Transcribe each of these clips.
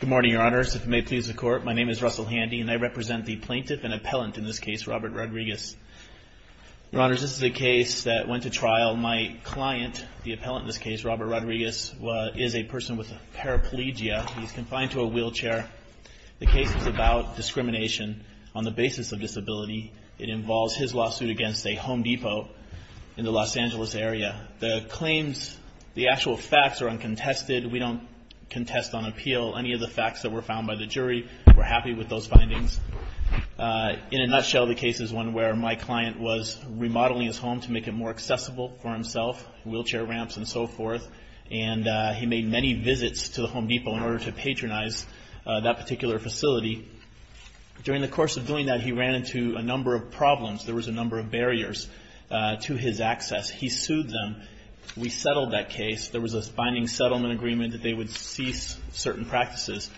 Good morning, Your Honors. If it may please the Court, my name is Russell Handy, and I represent the plaintiff and appellant in this case, Robert Rodriguez. Your Honors, this is a case that went to trial. My client, the appellant in this case, Robert Rodriguez, is a person with paraplegia. He's confined to a wheelchair. The case is about discrimination on the basis of disability. It involves his lawsuit against a Home Depot in the Los Angeles area. The claims, the actual facts are uncontested. We don't contest on appeal any of the facts that were found by the jury. We're happy with those findings. In a nutshell, the case is one where my client was remodeling his home to make it more accessible for himself, wheelchair ramps and so forth, and he made many visits to the Home Depot in order to patronize that particular facility. During the course of doing that, he ran into a number of problems. There was a number of barriers to his access. He sued them. We settled that case. There was a binding settlement agreement that they would cease certain practices.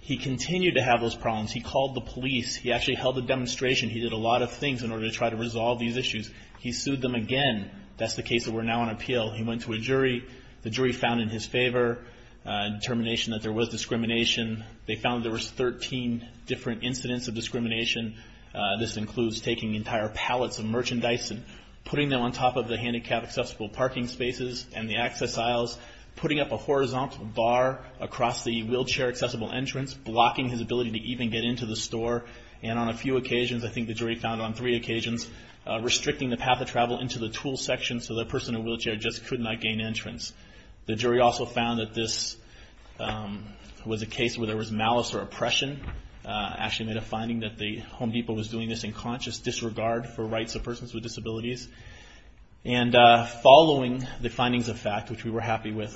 He continued to have those problems. He called the police. He actually held a demonstration. He did a lot of things in order to try to resolve these issues. He sued them again. That's the case that we're now on appeal. He went to a jury. The jury found in his favor determination that there was discrimination. They found there was 13 different incidents of discrimination. This includes taking entire pallets of merchandise and putting them on top of the handicap accessible parking spaces and the access aisles, putting up a horizontal bar across the wheelchair accessible entrance, blocking his ability to even get into the store, and on a few occasions, I think the jury found on three occasions, restricting the path of travel into the tool section so the person in a wheelchair just could not gain entrance. The jury also found that this was a case where there was malice or oppression. They actually made a finding that the Home Depot was doing this in conscious disregard for rights of persons with disabilities. Following the findings of fact, which we were happy with,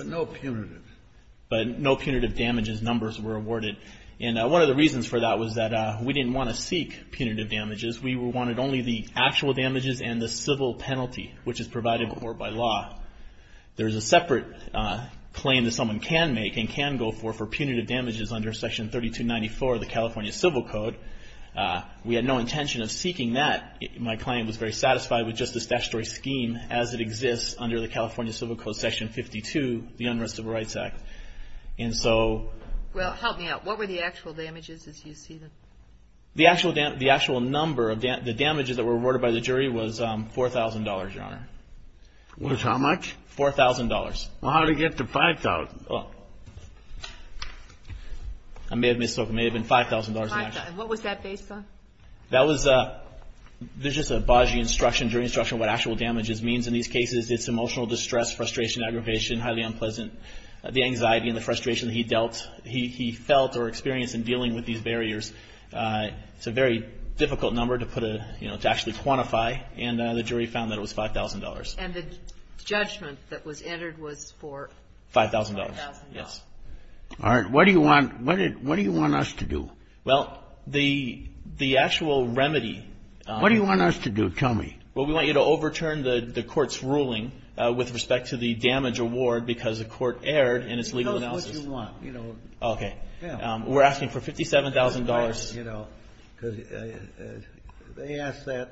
but no punitive damages numbers were awarded. One of the reasons for that was that we didn't want to seek punitive damages. We wanted only the actual damages and the civil penalty, which is provided by law. There is no way someone can make and can go for punitive damages under section 3294 of the California Civil Code. We had no intention of seeking that. My client was very satisfied with just the statutory scheme as it exists under the California Civil Code section 52, the Unrest of Rights Act. And so… Well, help me out. What were the actual damages as you see them? The actual number of the damages that were awarded by the jury was $4,000, Your Honor. Was how much? $4,000. How did it get to $5,000? I may have misspoke. It may have been $5,000 in action. $5,000. What was that based on? That was a… there's just a Bajie instruction, jury instruction, what actual damages means in these cases. It's emotional distress, frustration, aggravation, highly unpleasant, the anxiety and the frustration that he dealt, he felt or experienced in dealing with these barriers. It's a very difficult number to put a, you know, to actually quantify. And the jury found that it was $5,000. And the judgment that was entered was for… $5,000. $5,000. Yes. All right. What do you want, what do you want us to do? Well, the actual remedy… What do you want us to do? Tell me. Well, we want you to overturn the court's ruling with respect to the damage award because the court erred in its legal analysis. Tell us what you want, you know. Okay. We're asking for $57,000. You know, because they asked that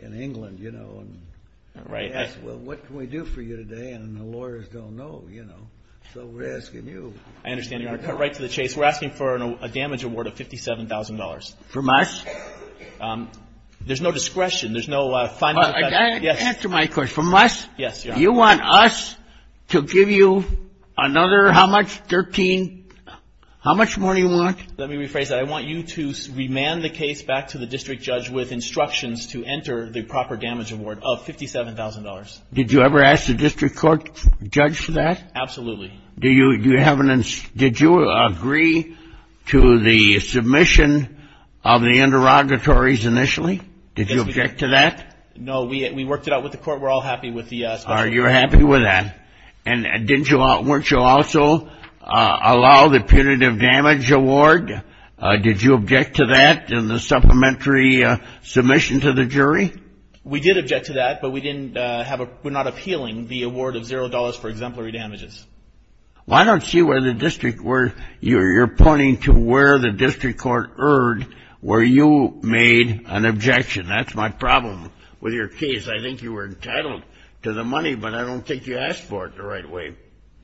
in England, you know. Right. They asked, well, what can we do for you today? And the lawyers don't know, you know. So we're asking you. I understand, Your Honor. I'll cut right to the chase. We're asking for a damage award of $57,000. From us? There's no discretion. There's no… Answer my question. From us? Yes, Your Honor. You want us to give you another how much, 13, how much more do you want? Let me rephrase that. I want you to remand the case back to the district judge with $57,000. Did you ever ask the district court judge for that? Absolutely. Do you have an… Did you agree to the submission of the interrogatories initially? Yes, we did. Did you object to that? No, we worked it out with the court. We're all happy with the special… You're happy with that. And didn't you also allow the punitive damage award? Did you object to that in the supplementary submission to the jury? We did object to that, but we didn't have a… We're not appealing the award of $0 for exemplary damages. Well, I don't see where the district… You're pointing to where the district court erred, where you made an objection. That's my problem with your case. I think you were entitled to the money, but I don't think you asked for it the right way.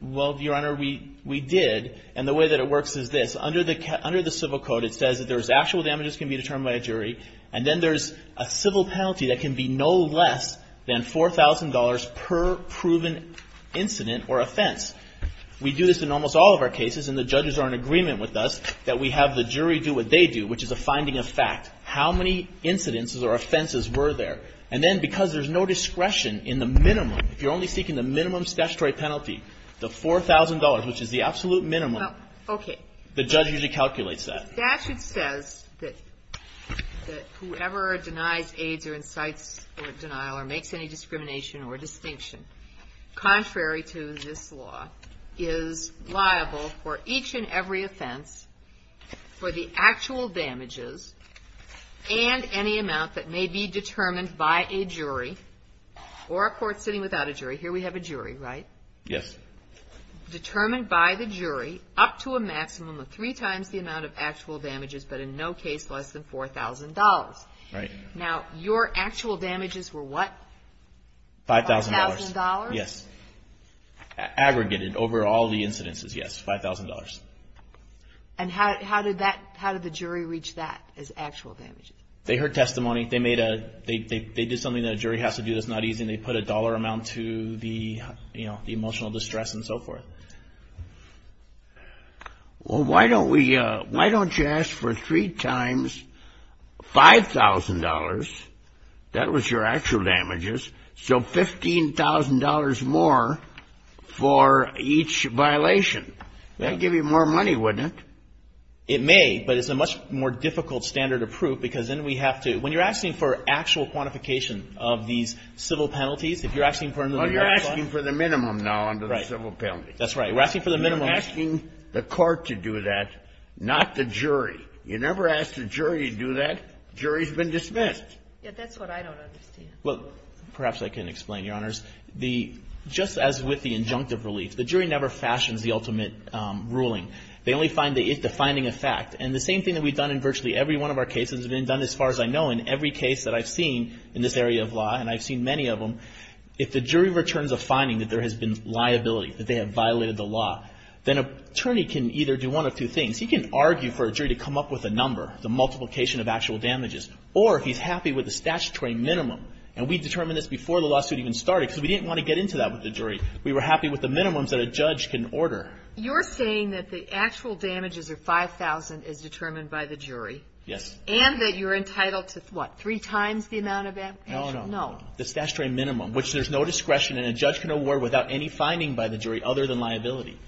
Well, Your Honor, we did, and the way that it works is this. Under the… Under the civil code, it says that there's a civil penalty that can be no less than $4,000 per proven incident or offense. We do this in almost all of our cases, and the judges are in agreement with us that we have the jury do what they do, which is a finding of fact, how many incidents or offenses were there. And then because there's no discretion in the minimum, if you're only seeking the minimum statutory penalty, the $4,000, which is the absolute minimum, the judge usually calculates that. The statute says that whoever denies, aids, or incites denial or makes any discrimination or distinction, contrary to this law, is liable for each and every offense for the actual damages and any amount that may be determined by a jury or a court sitting without a jury. Here we have a jury, right? Yes. Determined by the jury up to a maximum of three times the amount of actual damages, but in no case less than $4,000. Right. Now, your actual damages were what? $5,000. $5,000? Yes. Aggregated over all the incidences, yes, $5,000. And how did that – how did the jury reach that as actual damages? They heard testimony. They made a – they did something that a jury has to do that's not easy, and they put a dollar amount to the emotional distress and so forth. Well, why don't we – why don't you ask for three times $5,000 – that was your actual damages – so $15,000 more for each violation? That would give you more money, wouldn't it? It may, but it's a much more difficult standard of proof because then we have to – Well, you're asking for the minimum now under the civil penalty. That's right. We're asking for the minimum. You're asking the court to do that, not the jury. You never ask the jury to do that. The jury has been dismissed. Yes. That's what I don't understand. Well, perhaps I can explain, Your Honors. The – just as with the injunctive relief, the jury never fashions the ultimate ruling. They only find the defining effect. And the same thing that we've done in virtually every one of our cases, and it's been done as far as I know in every case that I've seen in this area of law, and I've seen many of them, if the jury returns a finding that there has been liability, that they have violated the law, then an attorney can either do one of two things. He can argue for a jury to come up with a number, the multiplication of actual damages, or if he's happy with the statutory minimum. And we determined this before the lawsuit even started because we didn't want to get into that with the jury. We were happy with the minimums that a judge can order. You're saying that the actual damages are $5,000 as determined by the jury. Yes. And that you're entitled to, what, three times the amount of actual – No, no. No. The statutory minimum, which there's no discretion, and a judge can award without any finding by the jury other than liability.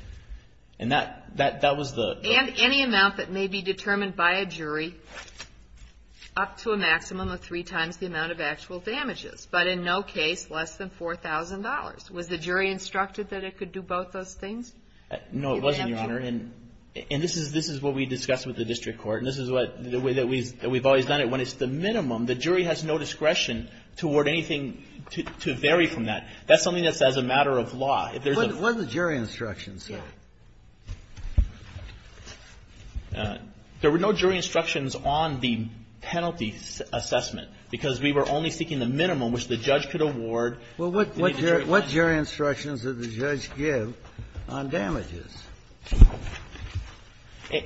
And that was the – And any amount that may be determined by a jury up to a maximum of three times the amount of actual damages, but in no case less than $4,000. No, it wasn't, Your Honor. And this is what we discussed with the district court. And this is the way that we've always done it. When it's the minimum, the jury has no discretion to award anything to vary from that. That's something that's as a matter of law. What did the jury instructions say? There were no jury instructions on the penalty assessment because we were only seeking the minimum which the judge could award. Well, what jury instructions did the judge give on damages?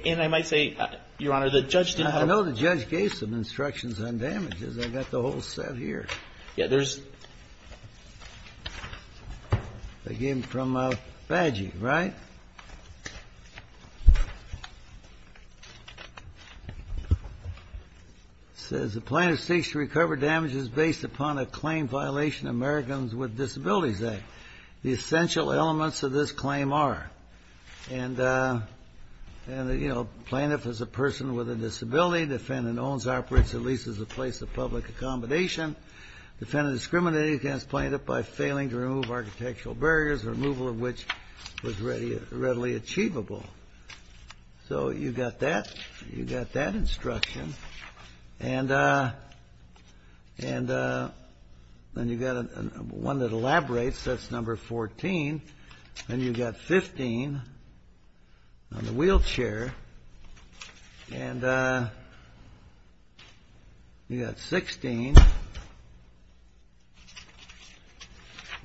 And I might say, Your Honor, the judge didn't have a – I know the judge gave some instructions on damages. I've got the whole set here. Yeah. There's – I gave them from Faggi, right? It says, The plaintiff seeks to recover damages based upon a claim violation of Americans with Disabilities Act. The essential elements of this claim are, and, you know, plaintiff is a person with a disability. Defendant owns, operates, or leases a place of public accommodation. Defendant discriminated against plaintiff by failing to remove architectural barriers, removal of which was readily achievable. So you've got that. You've got that instruction. And then you've got one that elaborates. That's number 14. And you've got 15 on the wheelchair. And you've got 16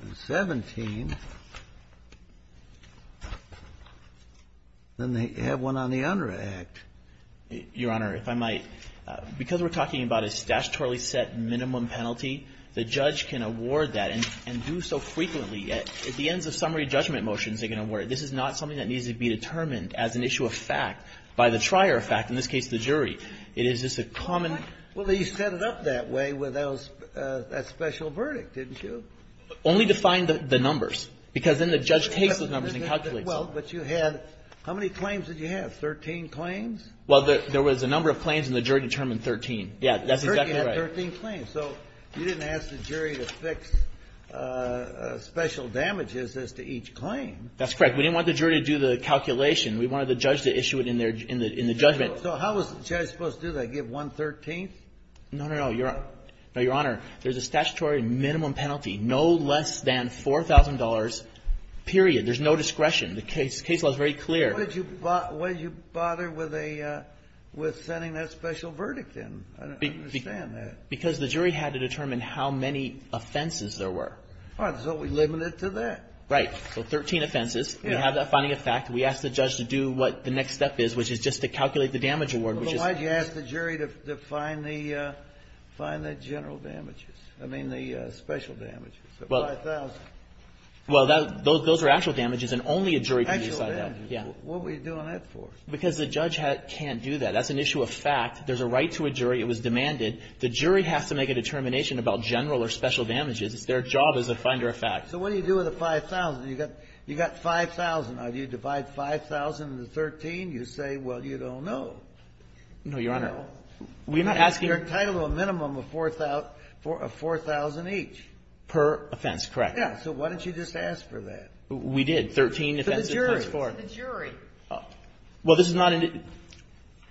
and 17. And they have one on the under act. Your Honor, if I might, because we're talking about a statutorily set minimum penalty, the judge can award that and do so frequently. At the ends of summary judgment motions, they can award it. This is not something that needs to be determined as an issue of fact by the trier of fact, in this case the jury. It is just a common – Well, he set it up that way with that special verdict, didn't you? Only to find the numbers, because then the judge takes those numbers and calculates Well, but you had – how many claims did you have, 13 claims? Well, there was a number of claims and the jury determined 13. Yeah, that's exactly right. 13 claims. So you didn't ask the jury to fix special damages as to each claim. That's correct. We didn't want the jury to do the calculation. We wanted the judge to issue it in the judgment. So how was the judge supposed to do that, give one-thirteenth? No, no, no. Your Honor, there's a statutory minimum penalty, no less than $4,000, period. There's no discretion. The case law is very clear. Why did you bother with a – with sending that special verdict in? I don't understand that. Because the jury had to determine how many offenses there were. All right. So we limited it to that. Right. So 13 offenses. Yeah. We have that finding of fact. We asked the judge to do what the next step is, which is just to calculate the damage award, which is – Well, then why did you ask the jury to find the general damages? I mean the special damages, the $5,000? Well, that – those are actual damages, and only a jury can decide that. Actual damages. Yeah. What were you doing that for? Because the judge can't do that. That's an issue of fact. There's a right to a jury. It was demanded. The jury has to make a determination about general or special damages. It's their job as a finder of fact. So what do you do with the $5,000? You got $5,000. Now, do you divide $5,000 into 13? You say, well, you don't know. No, Your Honor. No. We're not asking – You're entitled to a minimum of $4,000 each. Per offense. Correct. Yeah. So why don't you just ask for that? We did. Thirteen offenses times four. To the jury. To the jury. Well, this is not –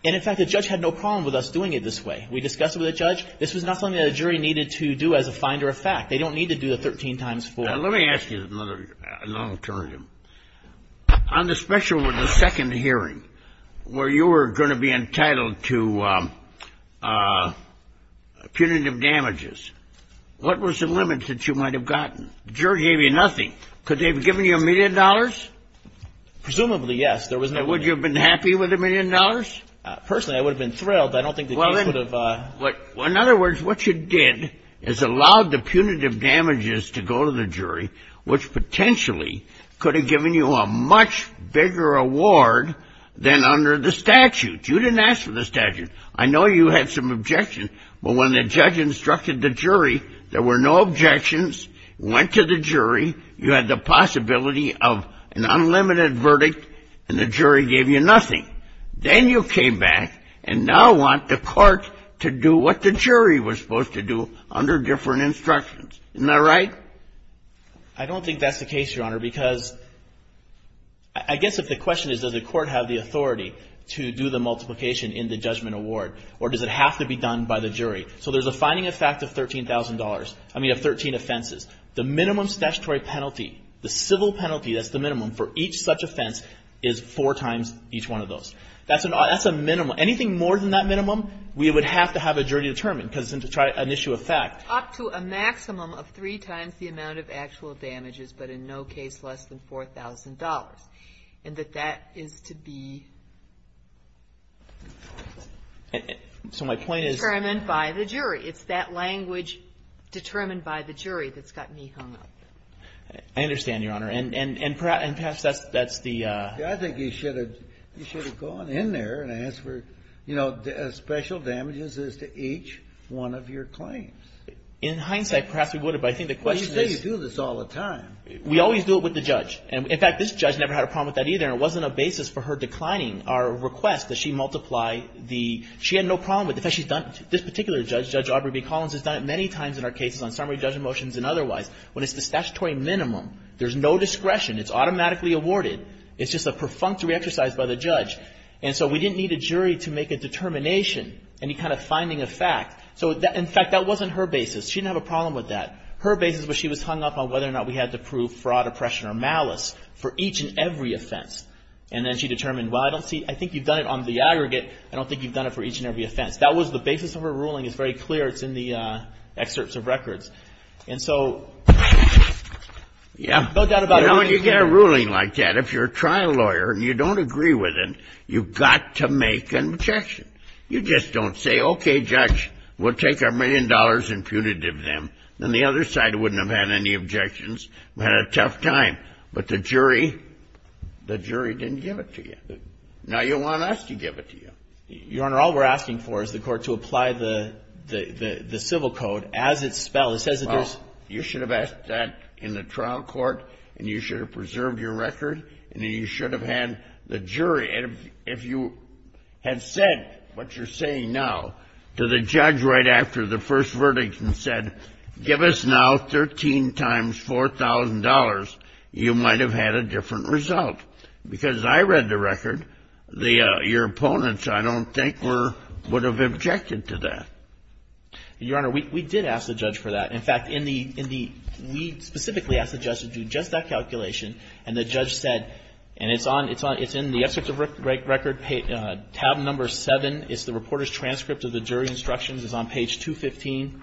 and, in fact, the judge had no problem with us doing it this way. We discussed it with the judge. This was not something that a jury needed to do as a finder of fact. They don't need to do the 13 times four. Now, let me ask you another – an alternative. On the special with the second hearing, where you were going to be entitled to punitive damages, what was the limit that you might have gotten? The jury gave you nothing. Could they have given you a million dollars? Presumably, yes. Would you have been happy with a million dollars? Personally, I would have been thrilled. I don't think the case would have – In other words, what you did is allowed the punitive damages to go to the jury, which potentially could have given you a much bigger award than under the statute. You didn't ask for the statute. I know you had some objections, but when the judge instructed the jury, there were no objections. It went to the jury. You had the possibility of an unlimited verdict, and the jury gave you nothing. Then you came back and now want the court to do what the jury was supposed to do under different instructions. Isn't that right? I don't think that's the case, Your Honor, because I guess if the question is, does the court have the authority to do the multiplication in the judgment award, or does it have to be done by the jury? So there's a fining effect of $13,000, I mean of 13 offenses. The minimum statutory penalty, the civil penalty, that's the minimum, for each such offense is four times each one of those. That's a minimum. Anything more than that minimum, we would have to have a jury determine, because it's an issue of fact. Up to a maximum of three times the amount of actual damages, but in no case less than $4,000, and that that is to be determined by the jury. It's that language determined by the jury that's got me hung up. I understand, Your Honor, and perhaps that's the ---- I think you should have gone in there and asked for, you know, special damages as to each one of your claims. In hindsight, perhaps we would have, but I think the question is ---- Well, you say you do this all the time. We always do it with the judge. In fact, this judge never had a problem with that either, and it wasn't a basis for her declining our request that she multiply the ---- she had no problem with it. In fact, she's done it, this particular judge, Judge Aubrey B. Collins, has done it many times in our cases on summary judgment motions and otherwise. When it's the statutory minimum, there's no discretion. It's automatically awarded. It's just a perfunctory exercise by the judge. And so we didn't need a jury to make a determination, any kind of finding of fact. So in fact, that wasn't her basis. She didn't have a problem with that. Her basis was she was hung up on whether or not we had to prove fraud, oppression, or malice for each and every offense. And then she determined, well, I don't see ---- I think you've done it on the aggregate. I don't think you've done it for each and every offense. That was the basis of her ruling. It's very clear. It's in the excerpts of records. And so no doubt about it. When you get a ruling like that, if you're a trial lawyer and you don't agree with it, you've got to make an objection. You just don't say, okay, judge, we'll take our million dollars and putative them. Then the other side wouldn't have had any objections and had a tough time. But the jury, the jury didn't give it to you. Now you want us to give it to you. Your Honor, all we're asking for is the court to apply the civil code as it's spelled. It says that there's ---- Well, you should have asked that in the trial court, and you should have preserved your record, and then you should have had the jury. If you had said what you're saying now to the judge right after the first verdict and said, give us now 13 times $4,000, you might have had a different result. Because I read the record, your opponents, I don't think, were ---- would have objected to that. Your Honor, we did ask the judge for that. In fact, in the ---- we specifically asked the judge to do just that calculation, and the judge said, and it's on, it's on, it's in the excerpt of record, tab number 7. It's the reporter's transcript of the jury's instructions. It's on page 215.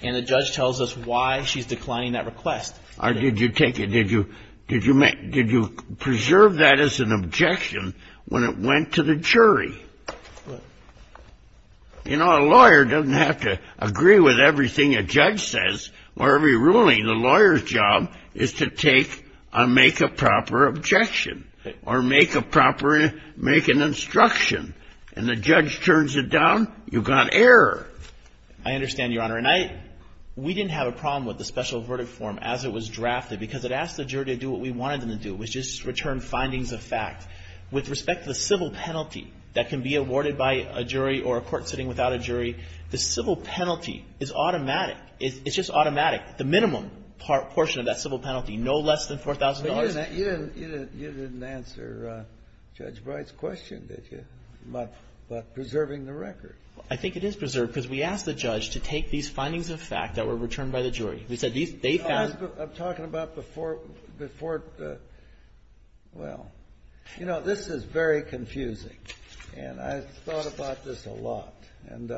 And the judge tells us why she's declining that request. Did you take it, did you, did you make, did you preserve that as an objection when it went to the jury? You know, a lawyer doesn't have to agree with everything a judge says, or every ruling. The lawyer's job is to take and make a proper objection or make a proper, make an instruction. And the judge turns it down, you've got error. I understand, Your Honor. And I, we didn't have a problem with the special verdict form as it was drafted because it asked the jury to do what we wanted them to do, which is return findings of fact. With respect to the civil penalty that can be awarded by a jury or a court sitting without a jury, the civil penalty is automatic. It's just automatic. The minimum portion of that civil penalty, no less than $4,000. But you didn't, you didn't, you didn't answer Judge Bright's question, did you, about preserving the record? I think it is preserved because we asked the judge to take these findings of fact that were returned by the jury. We said these, they found. I'm talking about before, before, well, you know, this is very confusing. And I thought about this a lot. And,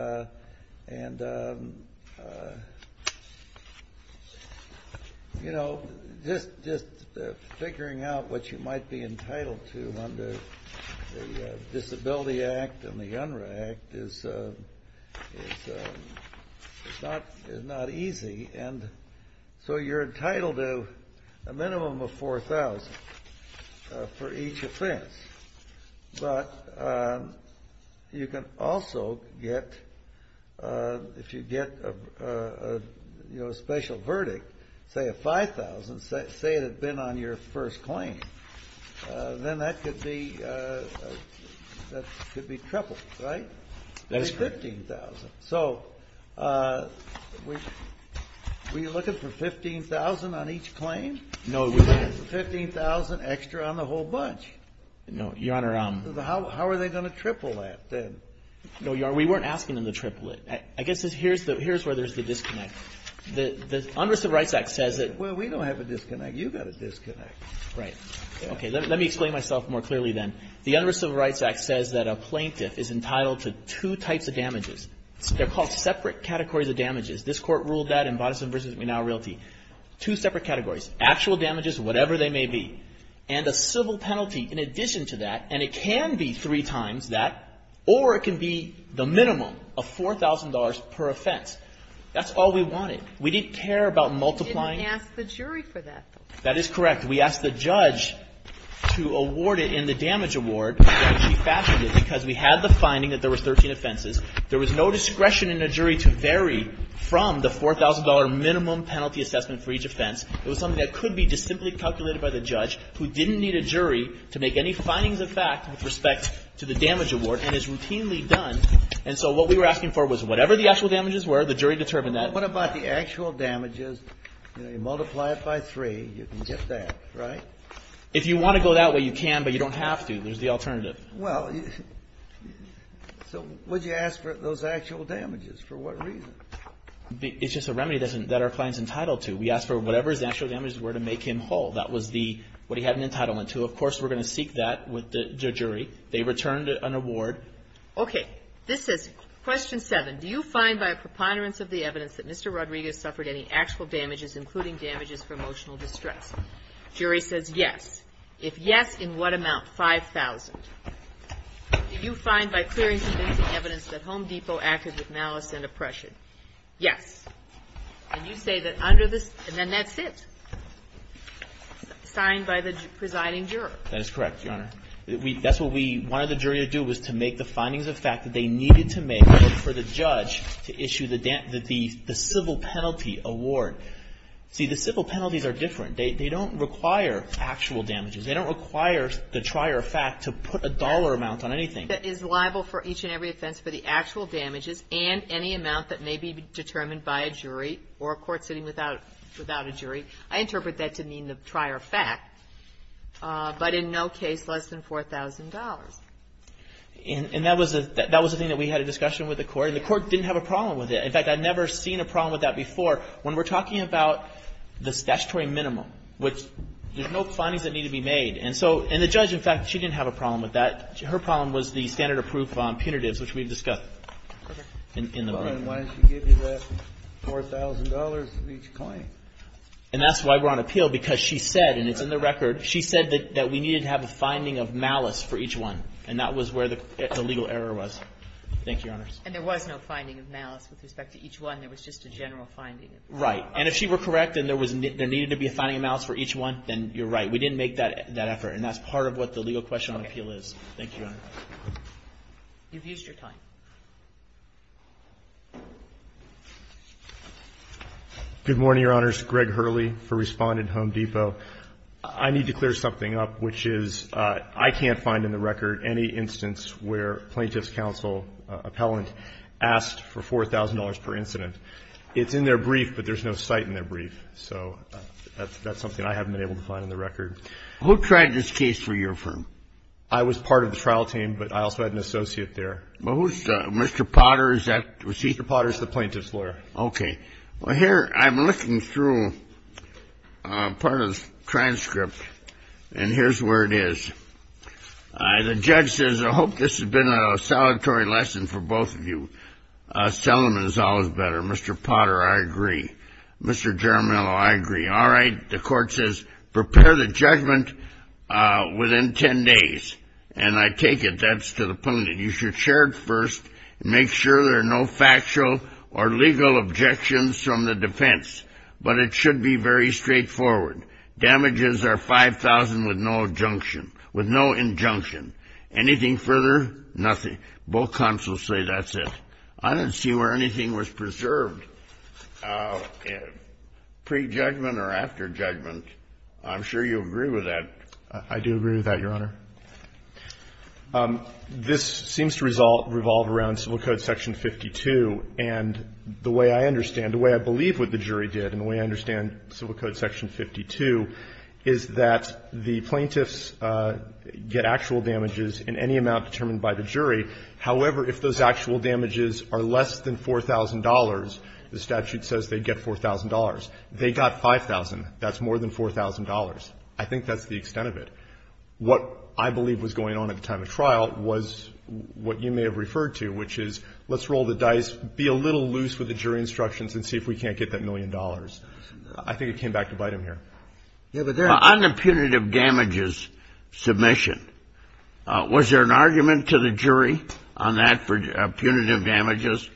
you know, just figuring out what you might be entitled to under the Disability Act and the UNRRA Act is not easy. And so you're entitled to a minimum of $4,000 for each offense. But you can also get, if you get, you know, a special verdict, say a $5,000, say it had been on your first claim, then that could be, that could be tripled, right? That's correct. That's $15,000. So were you looking for $15,000 on each claim? No, we didn't. $15,000 extra on the whole bunch. No, Your Honor. How are they going to triple that then? No, Your Honor, we weren't asking them to triple it. I guess here's where there's the disconnect. The UNRRA Civil Rights Act says that we don't have a disconnect. You've got a disconnect. Right. Okay. Let me explain myself more clearly then. The UNRRA Civil Rights Act says that a plaintiff is entitled to two types of damages. They're called separate categories of damages. This Court ruled that in Bodisson v. Menal Realty. Two separate categories. Actual damages, whatever they may be. And a civil penalty in addition to that, and it can be three times that, or it can be the minimum of $4,000 per offense. That's all we wanted. We didn't care about multiplying. You didn't ask the jury for that, though. That is correct. We asked the judge to award it in the damage award, and she fashioned it because we had the finding that there were 13 offenses. There was no discretion in the jury to vary from the $4,000 minimum penalty assessment for each offense. It was something that could be just simply calculated by the judge, who didn't need a jury to make any findings of fact with respect to the damage award, and is routinely done. And so what we were asking for was whatever the actual damages were, the jury determined that. What about the actual damages, you know, you multiply it by three, you can get that, right? If you want to go that way, you can, but you don't have to. There's the alternative. Well, so would you ask for those actual damages? For what reason? It's just a remedy that our client's entitled to. We asked for whatever his actual damages were to make him whole. That was what he had an entitlement to. Of course, we're going to seek that with the jury. They returned an award. Okay. This is question seven. Do you find by a preponderance of the evidence that Mr. Rodriguez suffered any actual damages, including damages for emotional distress? Jury says yes. If yes, in what amount? $5,000. Do you find by clearing convincing evidence that Home Depot acted with malice and oppression? Yes. And you say that under the --" and then that's it. Signed by the presiding juror. That is correct, Your Honor. That's what we wanted the jury to do, was to make the findings of fact that they needed to make for the judge to issue the civil penalty award. See, the civil penalties are different. They don't require actual damages. They don't require the trier of fact to put a dollar amount on anything. That is liable for each and every offense for the actual damages and any amount that may be determined by a jury or a court sitting without a jury. I interpret that to mean the trier of fact, but in no case less than $4,000. And that was a thing that we had a discussion with the court, and the court didn't have a problem with it. In fact, I've never seen a problem with that before. When we're talking about this statutory minimum, which there's no findings that need to be made. And so the judge, in fact, she didn't have a problem with that. Her problem was the standard-approved punitives, which we've discussed in the room. And she gave you that $4,000 for each claim. And that's why we're on appeal, because she said, and it's in the record, she said that we needed to have a finding of malice for each one. And that was where the legal error was. Thank you, Your Honors. And there was no finding of malice with respect to each one. There was just a general finding. Right. And if she were correct and there needed to be a finding of malice for each one, then you're right. We didn't make that effort. And that's part of what the legal question on appeal is. Thank you, Your Honor. You've used your time. Good morning, Your Honors. Greg Hurley for Respondent Home Depot. I need to clear something up, which is I can't find in the record any instance where plaintiff's counsel, appellant, asked for $4,000 per incident. It's in their brief, but there's no cite in their brief. So that's something I haven't been able to find in the record. Who tried this case for your firm? I was part of the trial team, but I also had an associate there. Well, who's Mr. Potter? Is that? Mr. Potter is the plaintiff's lawyer. Okay. Well, here, I'm looking through part of the transcript, and here's where it is. The judge says, I hope this has been a salutary lesson for both of you. Selling them is always better. Mr. Potter, I agree. Mr. Jaramillo, I agree. All right. The court says prepare the judgment within 10 days. And I take it that's to the point that you should share it first and make sure there are no factual or legal objections from the defense. But it should be very straightforward. Damages are $5,000 with no injunction. Anything further? Nothing. Both counsels say that's it. I don't see where anything was preserved, pre-judgment or after judgment. I'm sure you agree with that. I do agree with that, Your Honor. This seems to revolve around Civil Code Section 52. And the way I understand, the way I believe what the jury did and the way I understand Civil Code Section 52 is that the plaintiffs get actual damages in any amount determined by the jury. However, if those actual damages are less than $4,000, the statute says they get $4,000. They got $5,000. That's more than $4,000. I think that's the extent of it. What I believe was going on at the time of trial was what you may have referred to, which is let's roll the dice, be a little loose with the jury instructions and see if we can't get that million dollars. I think it came back to bite him here. Yeah, but there are no punitive damages submission. Was there an argument to the jury on that for punitive damages?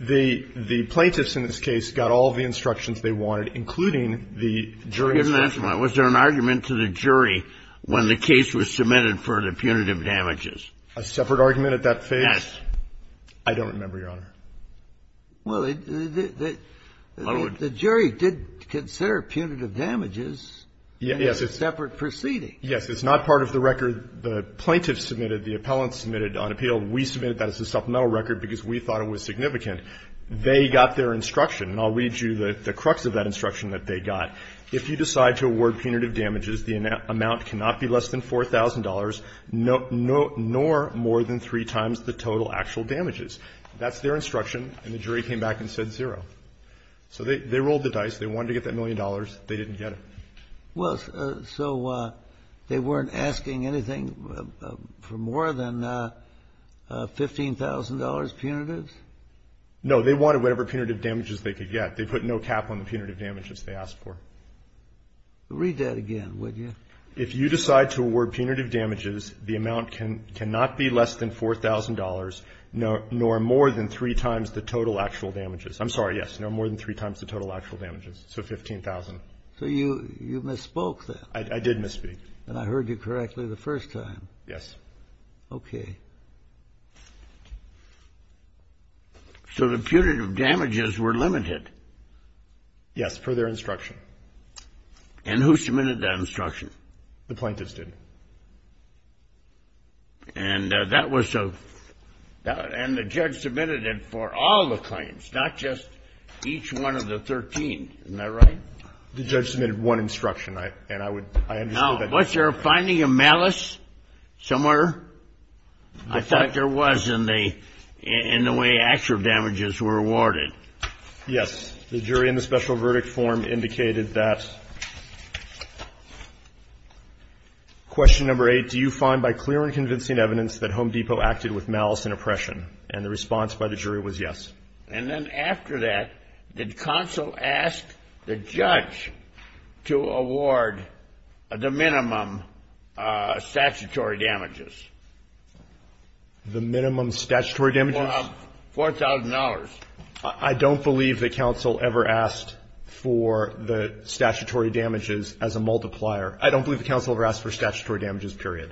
The plaintiffs in this case got all the instructions they wanted, including the jury instructions. Was there an argument to the jury when the case was submitted for the punitive damages? A separate argument at that phase? Yes. I don't remember, Your Honor. Well, the jury did consider punitive damages in a separate proceeding. Yes. It's not part of the record the plaintiffs submitted, the appellants submitted on appeal. We submitted that as a supplemental record because we thought it was significant. They got their instruction, and I'll read you the crux of that instruction that they got. If you decide to award punitive damages, the amount cannot be less than $4,000, nor more than three times the total actual damages. That's their instruction, and the jury came back and said zero. So they rolled the dice. They wanted to get that million dollars. They didn't get it. Well, so they weren't asking anything for more than $15,000 punitives? No. They wanted whatever punitive damages they could get. They put no cap on the punitive damages they asked for. Read that again, would you? If you decide to award punitive damages, the amount cannot be less than $4,000, nor more than three times the total actual damages. I'm sorry, yes. Nor more than three times the total actual damages. So $15,000. So you misspoke then. I did misspeak. And I heard you correctly the first time. Yes. Okay. So the punitive damages were limited? Yes, per their instruction. And who submitted that instruction? The plaintiffs did. And the judge submitted it for all the claims, not just each one of the 13. Isn't that right? The judge submitted one instruction, and I understood that. Now, was there a finding of malice somewhere? I thought there was in the way actual damages were awarded. Yes. The jury in the special verdict form indicated that. Question number eight, do you find by clear and convincing evidence that Home Depot acted with malice and oppression? And the response by the jury was yes. And then after that, did counsel ask the judge to award the minimum statutory damages? The minimum statutory damages? $4,000. I don't believe that counsel ever asked for the statutory damages as a multiplier. I don't believe that counsel ever asked for statutory damages, period.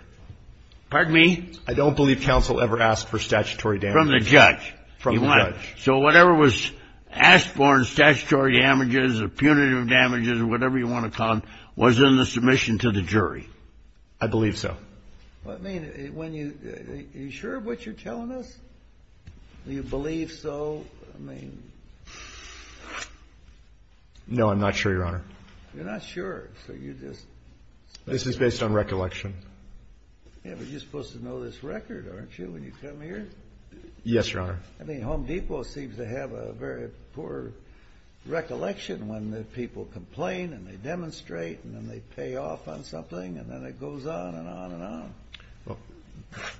Pardon me? I don't believe counsel ever asked for statutory damages. From the judge. From the judge. So whatever was asked for in statutory damages or punitive damages or whatever you want to call them was in the submission to the jury. I believe so. Are you sure of what you're telling us? Do you believe so? I mean. No, I'm not sure, Your Honor. You're not sure, so you just. This is based on recollection. Yeah, but you're supposed to know this record, aren't you, when you come here? Yes, Your Honor. I mean, Home Depot seems to have a very poor recollection when the people complain and they demonstrate and then they pay off on something and then it goes on and on and on. Well,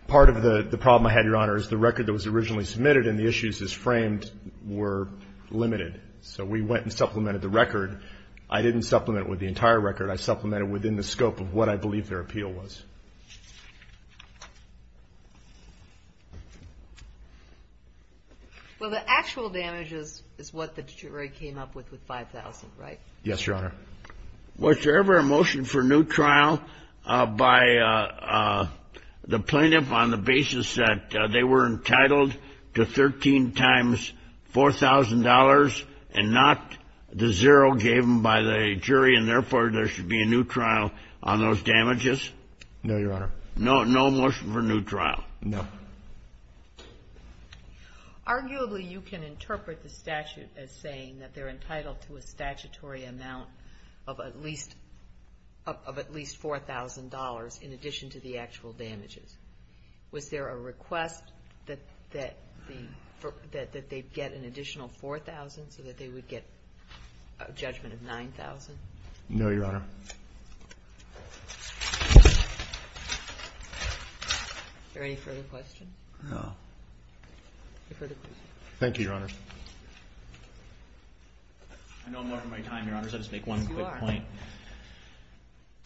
part of the problem I had, Your Honor, is the record that was originally submitted and the issues as framed were limited. So we went and supplemented the record. I didn't supplement it with the entire record. I supplemented it within the scope of what I believe their appeal was. Well, the actual damages is what the jury came up with with 5,000, right? Yes, Your Honor. Was there ever a motion for new trial by the plaintiff on the basis that they were entitled to 13 times $4,000 and not the zero given by the jury and, therefore, there should be a new trial on those damages? No, Your Honor. No motion for new trial? No. Arguably, you can interpret the statute as saying that they're entitled to a statutory amount of at least $4,000 in addition to the actual damages. Was there a request that they get an additional $4,000 so that they would get a judgment of $9,000? No, Your Honor. Is there any further questions? No. Any further questions? Thank you, Your Honor. I know I'm marking my time, Your Honor, so I'll just make one quick point. Yes,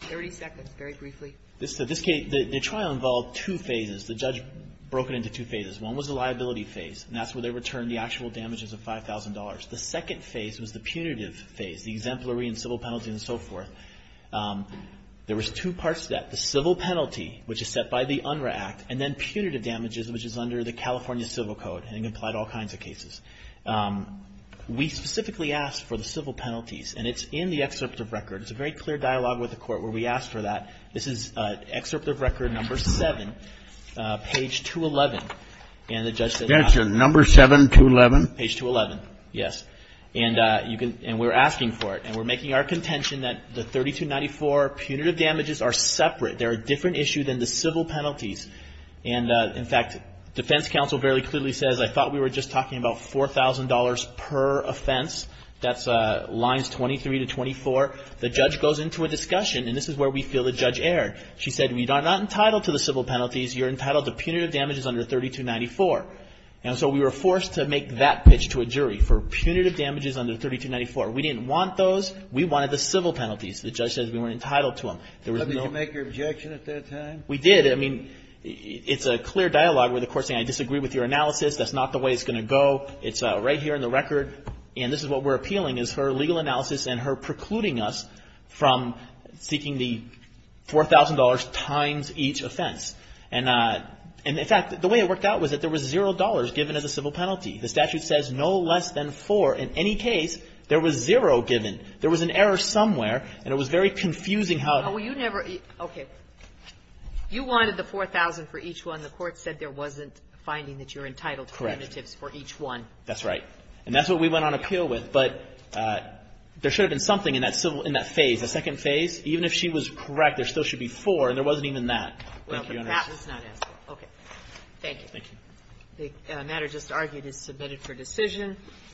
you are. Thirty seconds, very briefly. This case, the trial involved two phases. The judge broke it into two phases. One was the liability phase, and that's where they returned the actual damages of $5,000. The second phase was the punitive phase, the exemplary and civil penalty and so forth. There was two parts to that. The civil penalty, which is set by the UNRRA Act, and then punitive damages, which is under the California Civil Code and can apply to all kinds of cases. We specifically asked for the civil penalties, and it's in the excerpt of record. It's a very clear dialogue with the court where we asked for that. This is excerpt of record number seven, page 211. And the judge said, Number seven, 211? Page 211, yes. And we're asking for it. And we're making our contention that the 3294 punitive damages are separate. They're a different issue than the civil penalties. And, in fact, defense counsel very clearly says, I thought we were just talking about $4,000 per offense. That's lines 23 to 24. The judge goes into a discussion, and this is where we feel the judge erred. She said, we are not entitled to the civil penalties. You're entitled to punitive damages under 3294. And so we were forced to make that pitch to a jury for punitive damages under 3294. We didn't want those. We wanted the civil penalties. The judge said we weren't entitled to them. Did you make your objection at that time? We did. I mean, it's a clear dialogue with the court saying, I disagree with your analysis. That's not the way it's going to go. It's right here in the record. And this is what we're appealing, is her legal analysis and her precluding us from seeking the $4,000 times each offense. And, in fact, the way it worked out was that there was $0 given as a civil penalty. The statute says no less than 4. In any case, there was 0 given. There was an error somewhere. And it was very confusing how to do it. Okay. You wanted the $4,000 for each one. The court said there wasn't a finding that you're entitled to punitives for each one. Correct. That's right. And that's what we went on appeal with. But there should have been something in that phase, the second phase. Even if she was correct, there still should be 4, and there wasn't even that. Thank you, Your Honor. Well, perhaps that's not it. Okay. Thank you. The matter just argued is submitted for decision.